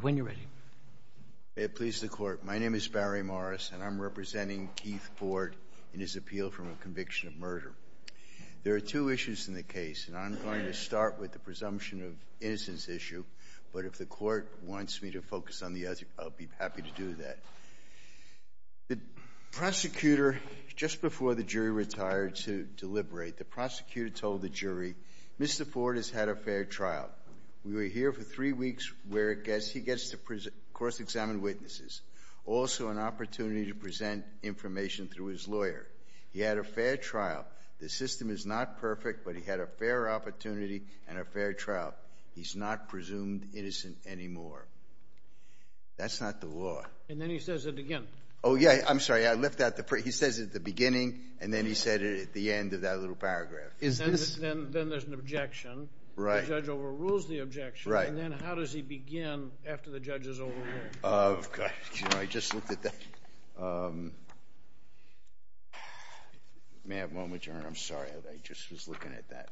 When you're ready. May it please the court, my name is Barry Morris and I'm representing Keith Ford in his appeal from a conviction of murder. There are two issues in the case and I'm going to start with the presumption of innocence issue but if the court wants me to focus on the other, I'll be happy to do that. The prosecutor, just before the jury retired to deliberate, the prosecutor told the jury Mr. Ford has had a fair trial. We were here for three weeks where he gets to course examine witnesses. Also an opportunity to present information through his lawyer. He had a fair trial. The system is not perfect but he had a fair opportunity and a fair trial. He's not presumed innocent anymore. That's not the law. And then he says it again. Oh yeah, I'm sorry. I left out the first. He says it at the beginning and then he said it at the end of that little paragraph. Then there's an objection. The judge overrules the objection and then how does he begin after the judge is overruled? Oh gosh, I just looked at that. May I have one moment, Your Honor? I'm sorry. I just was looking at that.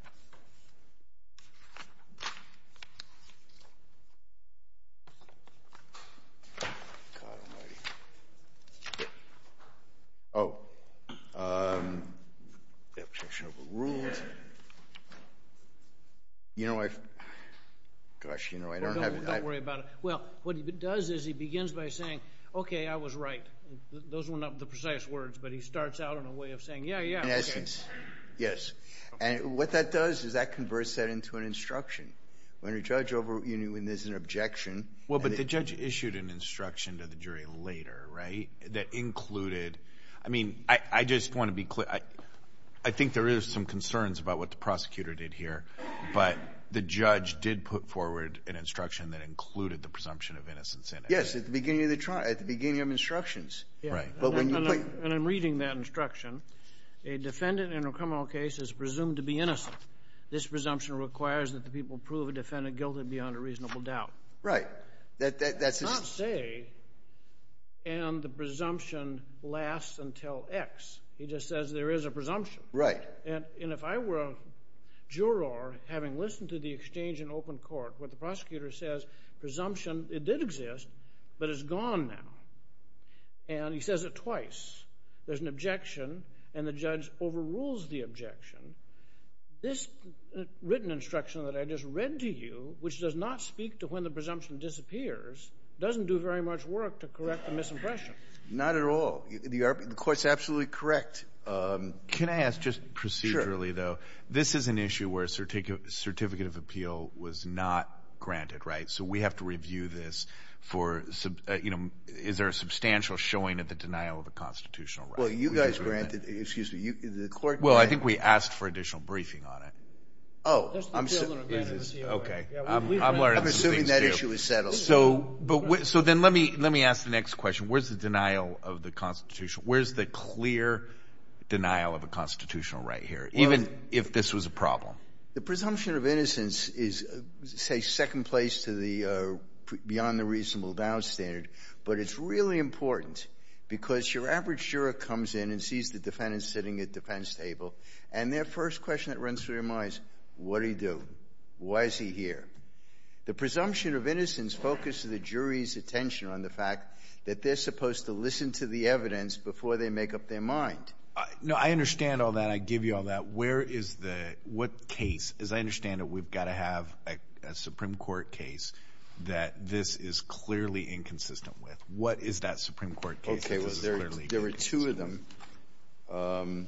Oh. The objection overruled. You know, I've, gosh, you know, I don't have. Don't worry about it. Well, what he does is he begins by saying, okay, I was right. Those were not the precise words but he starts out in a way of saying, yeah, yeah. In essence, yes. And what that does is that converts that into an instruction. When a judge, you know, when there's an objection. Well, but the judge issued an instruction to the jury later, right, that included. I mean, I just want to be clear. I think there is some concerns about what the prosecutor did here. But the judge did put forward an instruction that included the presumption of innocence in it. Yes, at the beginning of the trial, at the beginning of instructions. Right. And I'm reading that instruction. A defendant in a criminal case is presumed to be innocent. This presumption requires that the people prove a defendant guilty beyond a reasonable doubt. Right. That's. Not say, and the presumption lasts until X. He just says there is a presumption. Right. And if I were a juror, having listened to the exchange in open court, what the prosecutor says, presumption, it did exist, but it's gone now. And he says it twice. There's an objection and the judge overrules the objection. This written instruction that I just read to you, which does not speak to when the presumption disappears, doesn't do very much work to correct the misimpression. Not at all. The court's absolutely correct. Can I ask just procedurally, though? Sure. This is an issue where a certificate of appeal was not granted, right? So we have to review this for, you know, is there a substantial showing of the denial of a constitutional right? Well, you guys granted. Excuse me. The court granted. Well, I think we asked for additional briefing on it. Oh. Okay. I'm assuming that issue is settled. So then let me ask the next question. Where's the denial of the constitutional? Where's the clear denial of a constitutional right here, even if this was a problem? The presumption of innocence is, say, second place to the beyond the reasonable doubt standard. But it's really important because your average juror comes in and sees the defendant sitting at the defense table and their first question that runs through their mind is, what did he do? Why is he here? The presumption of innocence focuses the jury's attention on the fact that they're supposed to listen to the evidence before they make up their mind. No, I understand all that. I give you all that. Where is the – what case – as I understand it, we've got to have a Supreme Court case that this is clearly inconsistent with. What is that Supreme Court case that this is clearly inconsistent with? Okay, well, there are two of them.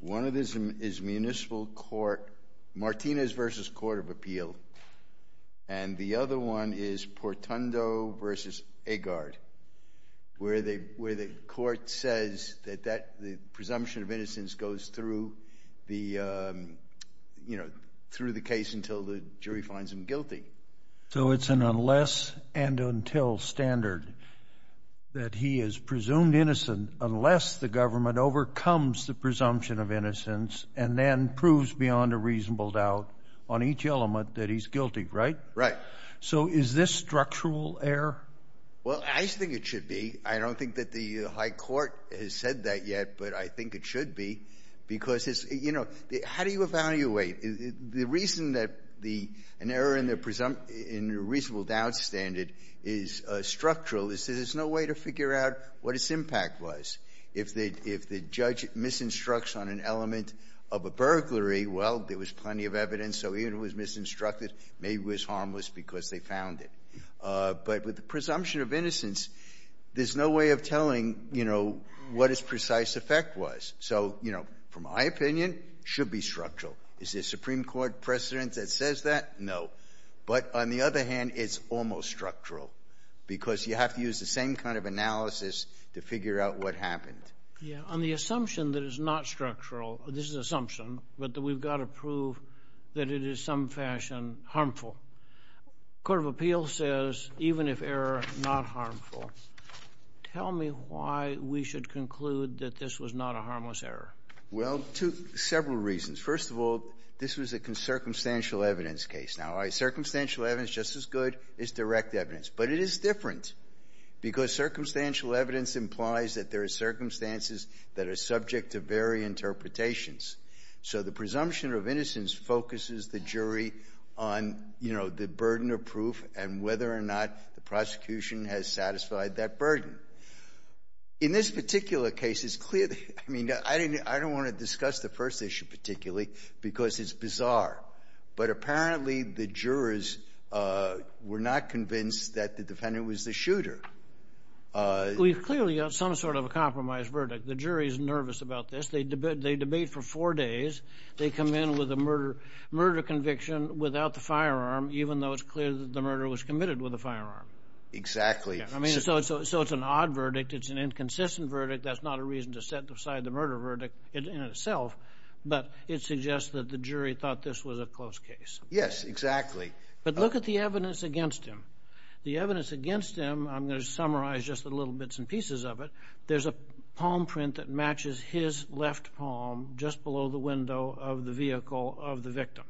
One of them is municipal court – Martinez v. Court of Appeal. And the other one is Portundo v. Agard, where the court says that the presumption of innocence goes through the case until the jury finds him guilty. So it's an unless and until standard that he is presumed innocent unless the government overcomes the presumption of innocence and then proves beyond a reasonable doubt on each element that he's guilty, right? Right. So is this structural error? Well, I think it should be. I don't think that the high court has said that yet, but I think it should be. Because it's – you know, how do you evaluate? The reason that the – an error in the – in a reasonable doubt standard is structural is that there's no way to figure out what its impact was. If the judge misinstructs on an element of a burglary, well, there was plenty of evidence. So even if it was misinstructed, maybe it was harmless because they found it. But with the presumption of innocence, there's no way of telling, you know, what its precise effect was. So, you know, from my opinion, it should be structural. Is there a Supreme Court precedent that says that? No. But on the other hand, it's almost structural because you have to use the same kind of analysis to figure out what happened. Yeah. On the assumption that it's not structural – this is an assumption – but that we've got to prove that it is some fashion harmful, the Court of Appeals says even if error, not harmful. Tell me why we should conclude that this was not a harmless error. Well, two – several reasons. First of all, this was a circumstantial evidence case. Now, circumstantial evidence, just as good as direct evidence. But it is different because circumstantial evidence implies that there are circumstances that are subject to varied interpretations. So the presumption of innocence focuses the jury on, you know, the burden of proof and whether or not the prosecution has satisfied that burden. In this particular case, it's clear – I mean, I didn't – I didn't address the first issue particularly because it's bizarre. But apparently the jurors were not convinced that the defendant was the shooter. We've clearly got some sort of a compromise verdict. The jury's nervous about this. They debate for four days. They come in with a murder conviction without the firearm, even though it's clear that the murder was committed with a firearm. Exactly. I mean, so it's an odd verdict. It's an inconsistent verdict. That's not a reason to set aside the murder verdict in itself. But it suggests that the jury thought this was a close case. Yes, exactly. But look at the evidence against him. The evidence against him, I'm going to summarize just the little bits and pieces of it. There's a palm print that matches his left palm just below the window of the vehicle of the victim.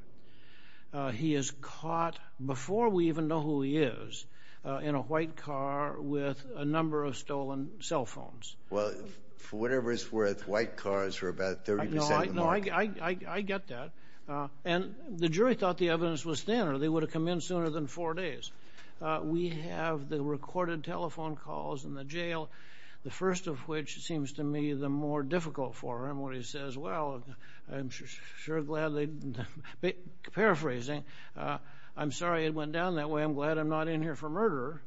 He is caught before we even know who he is in a white car with a number of stolen cell phones. Well, for whatever it's worth, white cars were about 30% of the market. No, I get that. And the jury thought the evidence was thinner. They would have come in sooner than four days. We have the recorded telephone calls in the jail, the first of which seems to me the more difficult for him when he says, well, I'm sure glad they... Paraphrasing, I'm sorry it went down that way. I'm glad I'm not in here for murder.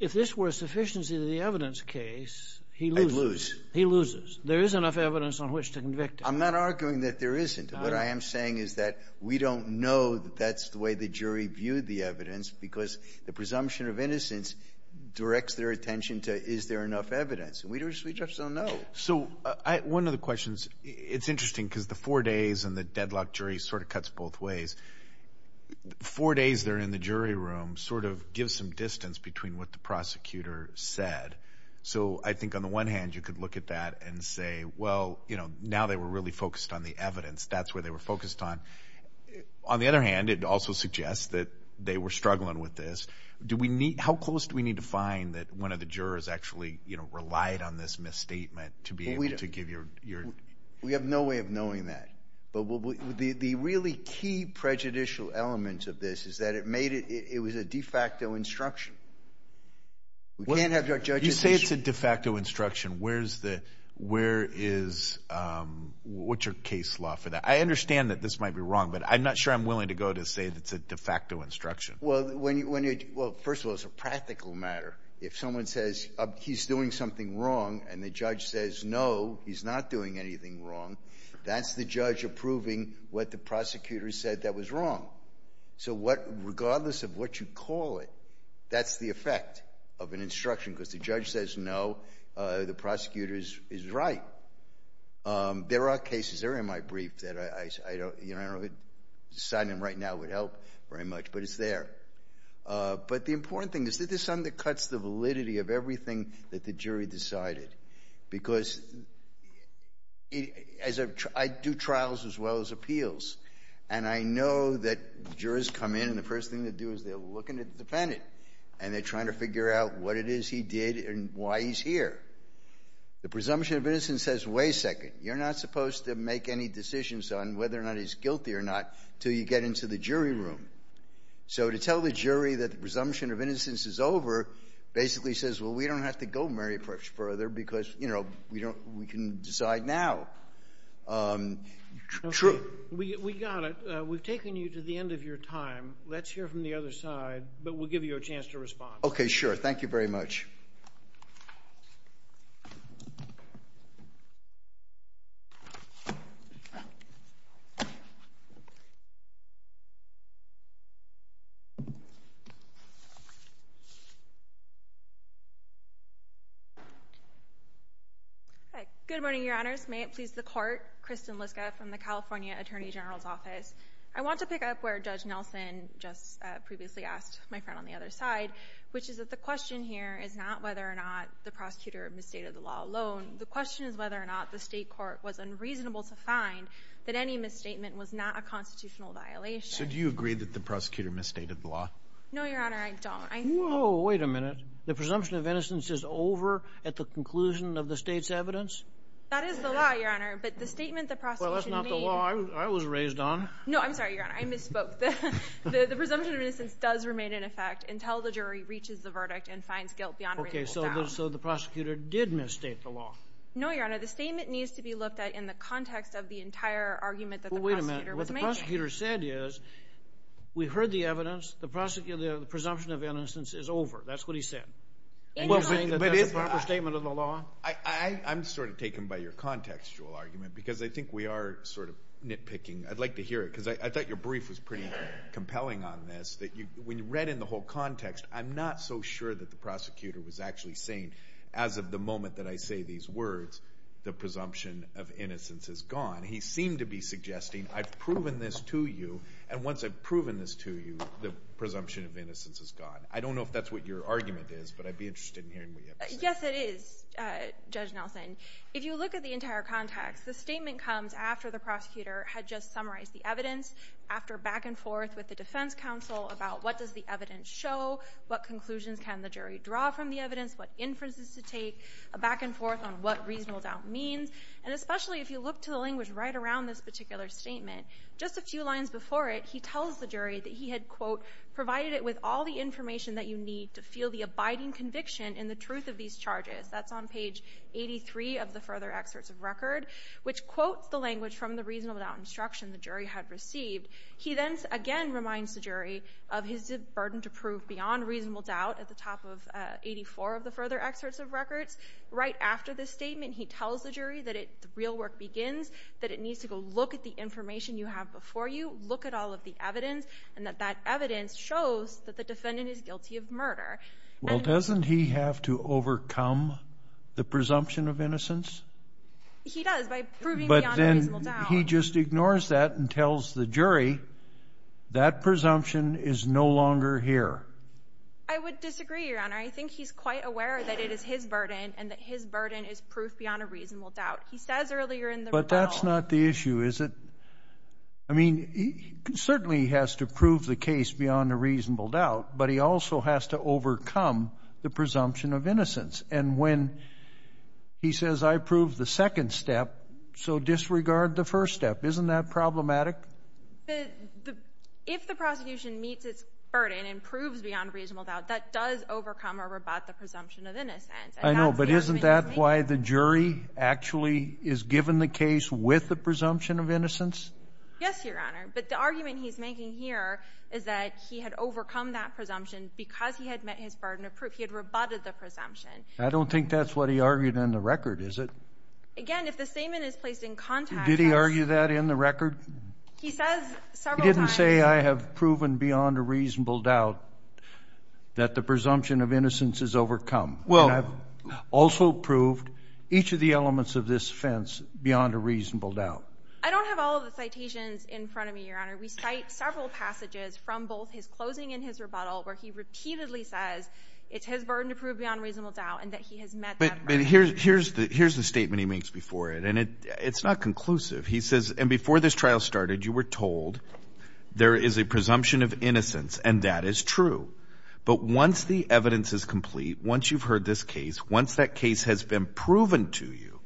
If this were a sufficiency of the evidence case, he loses. I'd lose. He loses. There is enough evidence on which to convict him. I'm not arguing that there isn't. What I am saying is that we don't know that that's the way the jury viewed the evidence because the presumption of innocence directs their attention to is there enough evidence. We just don't know. So one of the questions, it's interesting because the four days and the deadlock jury sort of cuts both ways. Four days they're in the jury room sort of gives some distance between what the prosecutor said. So I think on the one hand you could look at that and say, well, now they were really focused on the evidence. That's what they were focused on. On the other hand, it also suggests that they were struggling with this. How close do we need to find that one of the jurors actually relied on this misstatement to be able to give your... We have no way of knowing that. But the really key prejudicial element of this is that it was a de facto instruction. We can't have our judges... You say it's a de facto instruction. Where is, what's your case law for that? I understand that this might be wrong, but I'm not sure I'm willing to go to say that it's a de facto instruction. Well, first of all, it's a practical matter. If someone says he's doing something wrong and the judge says no, he's not doing anything wrong, that's the judge approving what the prosecutor said that was wrong. So regardless of what you call it, that's the effect of an instruction because the judge says no, the prosecutor is right. There are cases, they're in my brief, that I don't know if signing them right now would help very much, but it's there. But the important thing is that this undercuts the validity of everything that the jury decided because I do trials as well as appeals, and I know that jurors come in and the first thing they do is they're looking at the defendant and they're trying to figure out what it is he did and why he's here. The presumption of innocence says, wait a second, you're not supposed to make any decisions on whether or not he's guilty or not until you get into the jury room. So to tell the jury that the presumption of innocence is over basically says, well, we don't have to go very much further because, you know, we can decide now. True. We got it. We've taken you to the end of your time. Let's hear from the other side, but we'll give you a chance to respond. Okay, sure. Thank you very much. Good morning, Your Honors. May it please the Court. Kristen Liska from the California Attorney General's Office. I want to pick up where Judge Nelson just previously asked my friend on the other side, which is that the question here is not whether or not the prosecutor misstated the law alone. The question is whether or not the state court was unreasonable to find that any misstatement was not a constitutional violation. So do you agree that the prosecutor misstated the law? No, Your Honor, I don't. Whoa, wait a minute. The presumption of innocence is over at the conclusion of the state's evidence? That is the law, Your Honor, but the statement the prosecution made— Well, that's not the law I was raised on. No, I'm sorry, Your Honor. I misspoke. The presumption of innocence does remain in effect until the jury reaches the verdict and finds guilt beyond a reasonable doubt. Okay, so the prosecutor did misstate the law. No, Your Honor. The statement needs to be looked at in the context of the entire argument that the prosecutor was making. Well, wait a minute. What the prosecutor said is, we heard the evidence. The presumption of innocence is over. That's what he said. And you're saying that that's a proper statement of the law? I'm sort of taken by your contextual argument because I think we are sort of nitpicking. I'd like to hear it because I thought your brief was pretty compelling on this. When you read in the whole context, I'm not so sure that the prosecutor was actually saying, as of the moment that I say these words, the presumption of innocence is gone. He seemed to be suggesting, I've proven this to you, and once I've proven this to you, the presumption of innocence is gone. I don't know if that's what your argument is, but I'd be interested in hearing what you have to say. Yes, it is, Judge Nelson. If you look at the entire context, the statement comes after the prosecutor had just summarized the evidence, after back and forth with the defense counsel about what does the evidence show, what conclusions can the jury draw from the evidence, what inferences to take, a back and forth on what reasonable doubt means. And especially if you look to the language right around this particular statement, just a few lines before it, he tells the jury that he had, quote, provided it with all the information that you need to feel the abiding conviction in the truth of these charges. That's on page 83 of the further excerpts of record, which quotes the language from the reasonable doubt instruction the jury had received. He then again reminds the jury of his burden to prove beyond reasonable doubt at the top of 84 of the further excerpts of records. Right after this statement, he tells the jury that real work begins, that it needs to go look at the information you have before you, look at all of the evidence, and that that evidence shows that the defendant is guilty of murder. Well, doesn't he have to overcome the presumption of innocence? He does by proving beyond reasonable doubt. But then he just ignores that and tells the jury that presumption is no longer here. I would disagree, Your Honor. I think he's quite aware that it is his burden and that his burden is proof beyond a reasonable doubt. He says earlier in the rebuttal. But that's not the issue, is it? I mean, he certainly has to prove the case beyond a reasonable doubt, but he also has to overcome the presumption of innocence. And when he says, I approve the second step, so disregard the first step. Isn't that problematic? If the prosecution meets its burden and proves beyond reasonable doubt, that does overcome or rebut the presumption of innocence. I know, but isn't that why the jury actually is given the case with the presumption of innocence? Yes, Your Honor. But the argument he's making here is that he had overcome that presumption because he had met his burden of proof. He had rebutted the presumption. I don't think that's what he argued in the record, is it? Again, if the statement is placed in context. Did he argue that in the record? He says several times. He didn't say I have proven beyond a reasonable doubt that the presumption of innocence is overcome. And I've also proved each of the elements of this offense beyond a reasonable doubt. I don't have all of the citations in front of me, Your Honor. We cite several passages from both his closing and his rebuttal where he repeatedly says it's his burden to prove beyond reasonable doubt and that he has met that burden. But here's the statement he makes before it, and it's not conclusive. He says, and before this trial started, you were told there is a presumption of innocence, and that is true. But once the evidence is complete, once you've heard this case, once that case has been proven to you,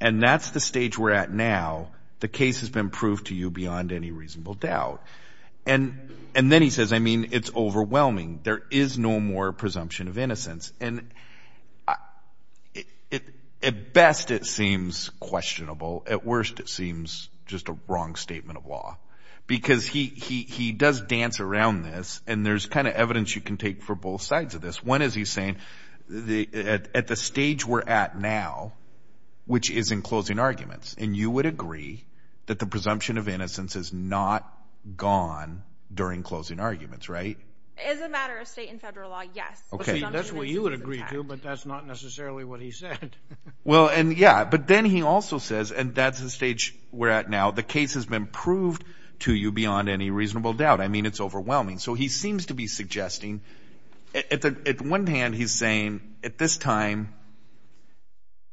and that's the stage we're at now, the case has been proved to you beyond any reasonable doubt. And then he says, I mean, it's overwhelming. There is no more presumption of innocence. And at best it seems questionable. At worst it seems just a wrong statement of law because he does dance around this, and there's kind of evidence you can take for both sides of this. One is he's saying at the stage we're at now, which is in closing arguments, and you would agree that the presumption of innocence is not gone during closing arguments, right? As a matter of state and federal law, yes. That's what you would agree to, but that's not necessarily what he said. Well, and yeah, but then he also says, and that's the stage we're at now, the case has been proved to you beyond any reasonable doubt. I mean, it's overwhelming. So he seems to be suggesting at one hand he's saying at this time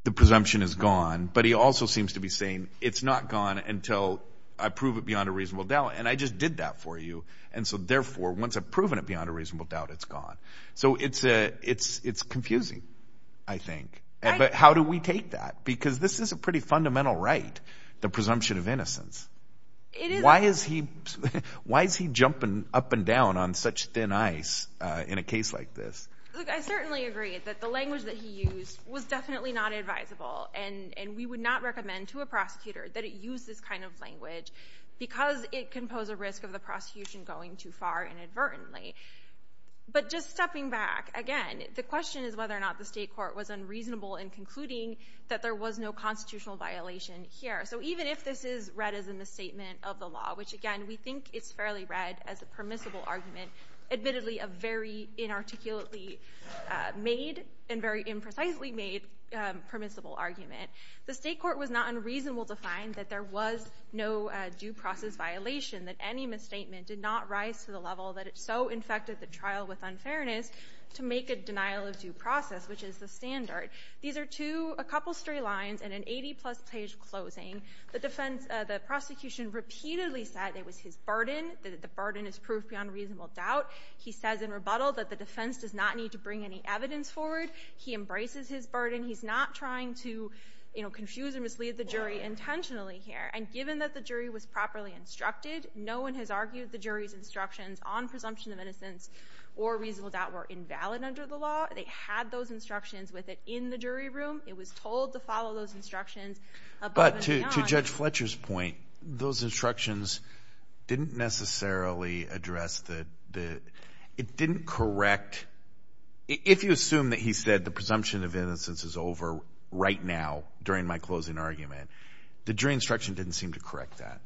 the presumption is gone, but he also seems to be saying it's not gone until I prove it beyond a reasonable doubt, and I just did that for you, and so therefore once I've proven it beyond a reasonable doubt, it's gone. So it's confusing, I think. But how do we take that? Why is he jumping up and down on such thin ice in a case like this? Look, I certainly agree that the language that he used was definitely not advisable, and we would not recommend to a prosecutor that it use this kind of language because it can pose a risk of the prosecution going too far inadvertently. But just stepping back, again, the question is whether or not the state court was unreasonable in concluding that there was no constitutional violation here. So even if this is read as a misstatement of the law, which, again, we think it's fairly read as a permissible argument, admittedly a very inarticulately made and very imprecisely made permissible argument, the state court was not unreasonable to find that there was no due process violation, that any misstatement did not rise to the level that it so infected the trial with unfairness to make a denial of due process, which is the standard. These are two, a couple stray lines, and an 80-plus page closing. The prosecution repeatedly said it was his burden, that the burden is proof beyond reasonable doubt. He says in rebuttal that the defense does not need to bring any evidence forward. He embraces his burden. He's not trying to confuse or mislead the jury intentionally here. And given that the jury was properly instructed, no one has argued the jury's instructions on presumption of innocence or reasonable doubt were invalid under the law. They had those instructions with it in the jury room. It was told to follow those instructions above and beyond. But to Judge Fletcher's point, those instructions didn't necessarily address the – it didn't correct – if you assume that he said the presumption of innocence is over right now during my closing argument, the jury instruction didn't seem to correct that.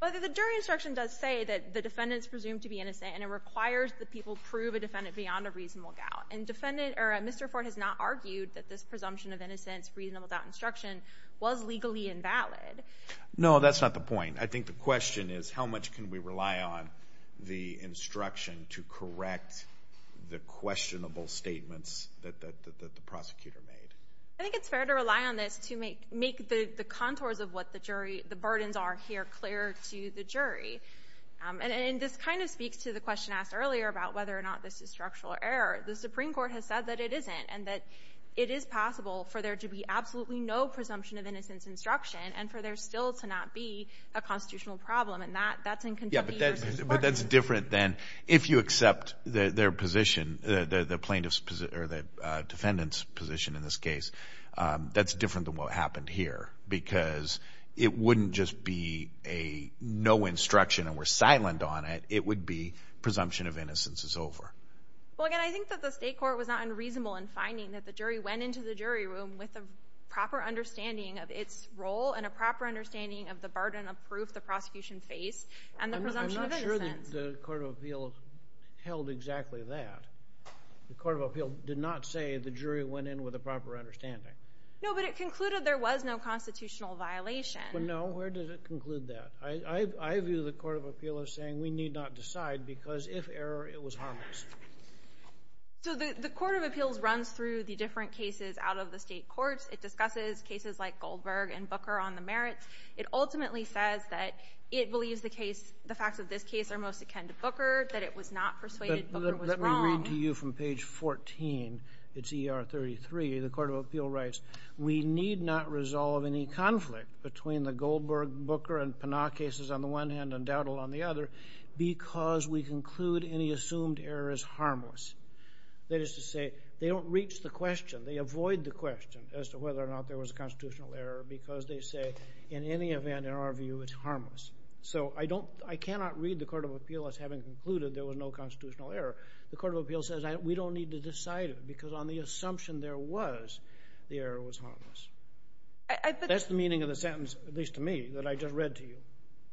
Well, the jury instruction does say that the defendant is presumed to be innocent, and it requires that people prove a defendant beyond a reasonable doubt. And Mr. Ford has not argued that this presumption of innocence, reasonable doubt instruction, was legally invalid. No, that's not the point. I think the question is how much can we rely on the instruction to correct the questionable statements that the prosecutor made. I think it's fair to rely on this to make the contours of what the jury – the burdens are here clearer to the jury. And this kind of speaks to the question asked earlier about whether or not this is structural error. The Supreme Court has said that it isn't and that it is possible for there to be absolutely no presumption of innocence instruction and for there still to not be a constitutional problem. And that's in contempt of the jurors' discretion. But that's different than if you accept their position, the plaintiff's position or the defendant's position in this case. That's different than what happened here because it wouldn't just be a no instruction and we're silent on it. It would be presumption of innocence is over. Well, again, I think that the State Court was not unreasonable in finding that the jury went into the jury room with a proper understanding of its role and a proper understanding of the burden of proof the prosecution faced and the presumption of innocence. I'm not sure the Court of Appeals held exactly that. The Court of Appeals did not say the jury went in with a proper understanding. No, but it concluded there was no constitutional violation. No, where did it conclude that? I view the Court of Appeals as saying we need not decide because if error, it was harmless. So the Court of Appeals runs through the different cases out of the State Courts. It discusses cases like Goldberg and Booker on the merits. It ultimately says that it believes the facts of this case are most akin to Booker, that it was not persuaded Booker was wrong. Let me read to you from page 14. It's ER 33. The Court of Appeals writes, we need not resolve any conflict between the Goldberg, Booker, and Pinnock cases on the one hand and Dowdell on the other because we conclude any assumed error is harmless. That is to say they don't reach the question. They avoid the question as to whether or not there was a constitutional error because they say in any event, in our view, it's harmless. So I cannot read the Court of Appeals as having concluded there was no constitutional error. The Court of Appeals says we don't need to decide it because on the assumption there was, the error was harmless. That's the meaning of the sentence, at least to me, that I just read to you.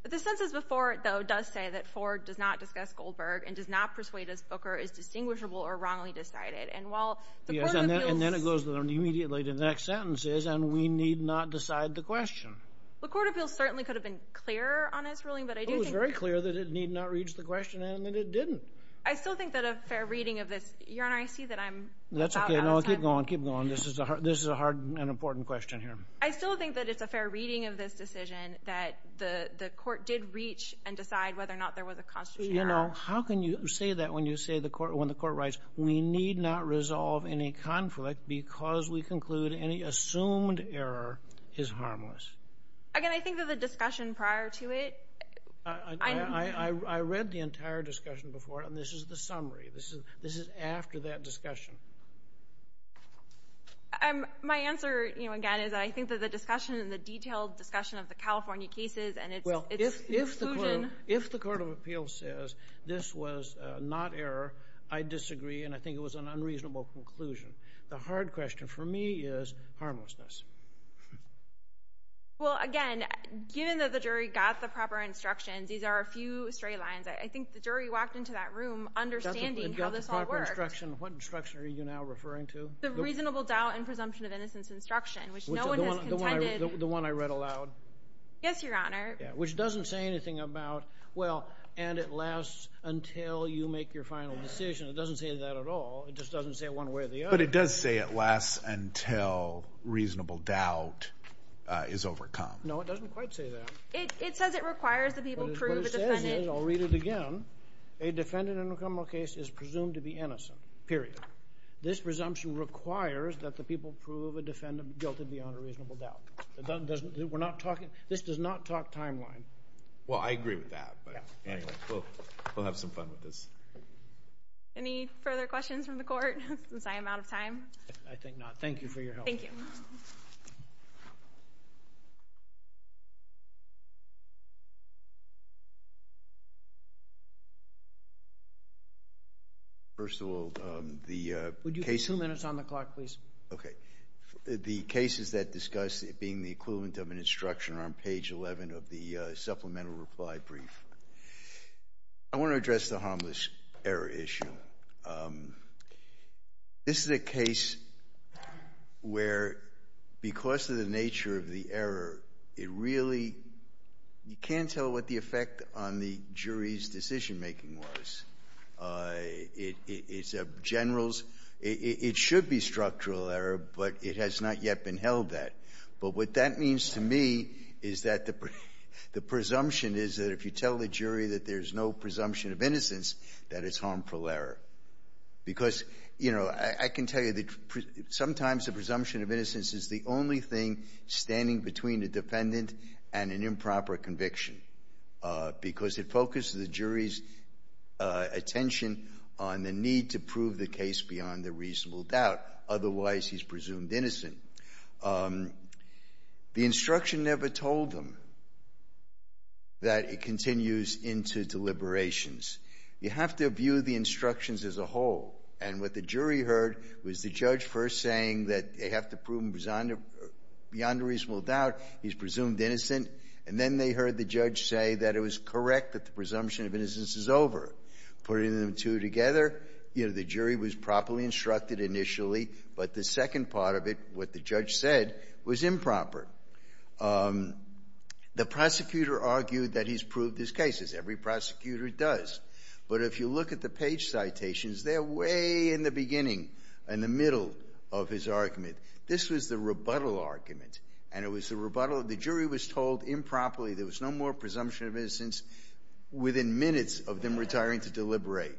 But the sentence before it, though, does say that Ford does not discuss Goldberg and does not persuade us Booker is distinguishable or wrongly decided. And while the Court of Appeals Yes, and then it goes immediately to the next sentence is, and we need not decide the question. The Court of Appeals certainly could have been clearer on its ruling, but I do think It was very clear that it need not reach the question and that it didn't. I still think that a fair reading of this, Your Honor, I see that I'm That's okay. No, keep going, keep going. This is a hard and important question here. I still think that it's a fair reading of this decision that the court did reach and decide whether or not there was a constitutional error. You know, how can you say that when you say the court, when the court writes we need not resolve any conflict because we conclude any assumed error is harmless. Again, I think that the discussion prior to it I read the entire discussion before and this is the summary. This is after that discussion. My answer, you know, again, is I think that the discussion and the detailed discussion of the California cases and its conclusion Well, if the Court of Appeals says this was not error, I disagree and I think it was an unreasonable conclusion. The hard question for me is harmlessness. Well, again, given that the jury got the proper instructions these are a few straight lines. I think the jury walked into that room understanding how this all worked. What instruction are you now referring to? The reasonable doubt and presumption of innocence instruction, which no one has contended. The one I read aloud? Yes, Your Honor. Which doesn't say anything about, well, and it lasts until you make your final decision. It doesn't say that at all. It just doesn't say it one way or the other. But it does say it lasts until reasonable doubt is overcome. No, it doesn't quite say that. It says it requires the people prove a defendant I'll read it again. A defendant in a criminal case is presumed to be innocent, period. This presumption requires that the people prove a defendant guilty beyond a reasonable doubt. We're not talking, this does not talk timeline. Well, I agree with that, but anyway, we'll have some fun with this. Any further questions from the court, since I am out of time? I think not. Thank you for your help. Thank you. First of all, the case Would you give us two minutes on the clock, please? Okay. The cases that discuss it being the equivalent of an instruction are on page 11 of the supplemental reply brief. I want to address the harmless error issue. This is a case where, because of the nature of the error, it really You can't tell what the effect on the jury's decision-making was. It's a general's It should be structural error, but it has not yet been held that. But what that means to me is that the presumption is that if you tell the jury that there's no presumption of innocence, that it's harmful error. Because, you know, I can tell you that sometimes the presumption of innocence is the only thing standing between a defendant and an improper conviction. Because it focuses the jury's attention on the need to prove the case beyond a reasonable doubt. Otherwise, he's presumed innocent. The instruction never told them that it continues into deliberations. You have to view the instructions as a whole. And what the jury heard was the judge first saying that they have to prove beyond a reasonable doubt he's presumed innocent. And then they heard the judge say that it was correct that the presumption of innocence is over. Putting the two together, you know, the jury was properly instructed initially. But the second part of it, what the judge said, was improper. The prosecutor argued that he's proved his cases. Every prosecutor does. But if you look at the page citations, they're way in the beginning, in the middle of his argument. This was the rebuttal argument. And it was the rebuttal. The jury was told improperly there was no more presumption of innocence within minutes of them retiring to deliberate.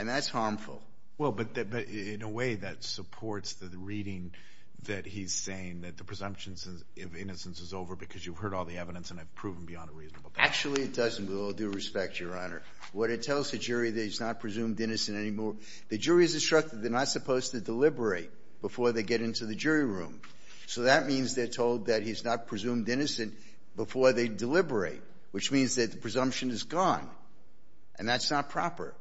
And that's harmful. Well, but in a way, that supports the reading that he's saying that the presumption of innocence is over because you've heard all the evidence and have proven beyond a reasonable doubt. Actually, it doesn't, with all due respect, Your Honor. What it tells the jury that he's not presumed innocent anymore, the jury is instructed they're not supposed to deliberate before they get into the jury room. So that means they're told that he's not presumed innocent before they deliberate, which means that the presumption is gone. And that's not proper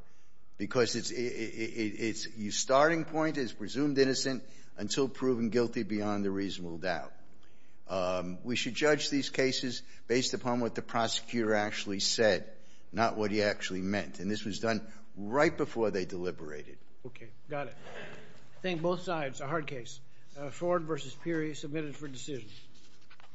because its starting point is presumed innocent until proven guilty beyond a reasonable doubt. We should judge these cases based upon what the prosecutor actually said, not what he actually meant. And this was done right before they deliberated. Okay. Got it. I think both sides, a hard case. Ford v. Peary, submitted for decision.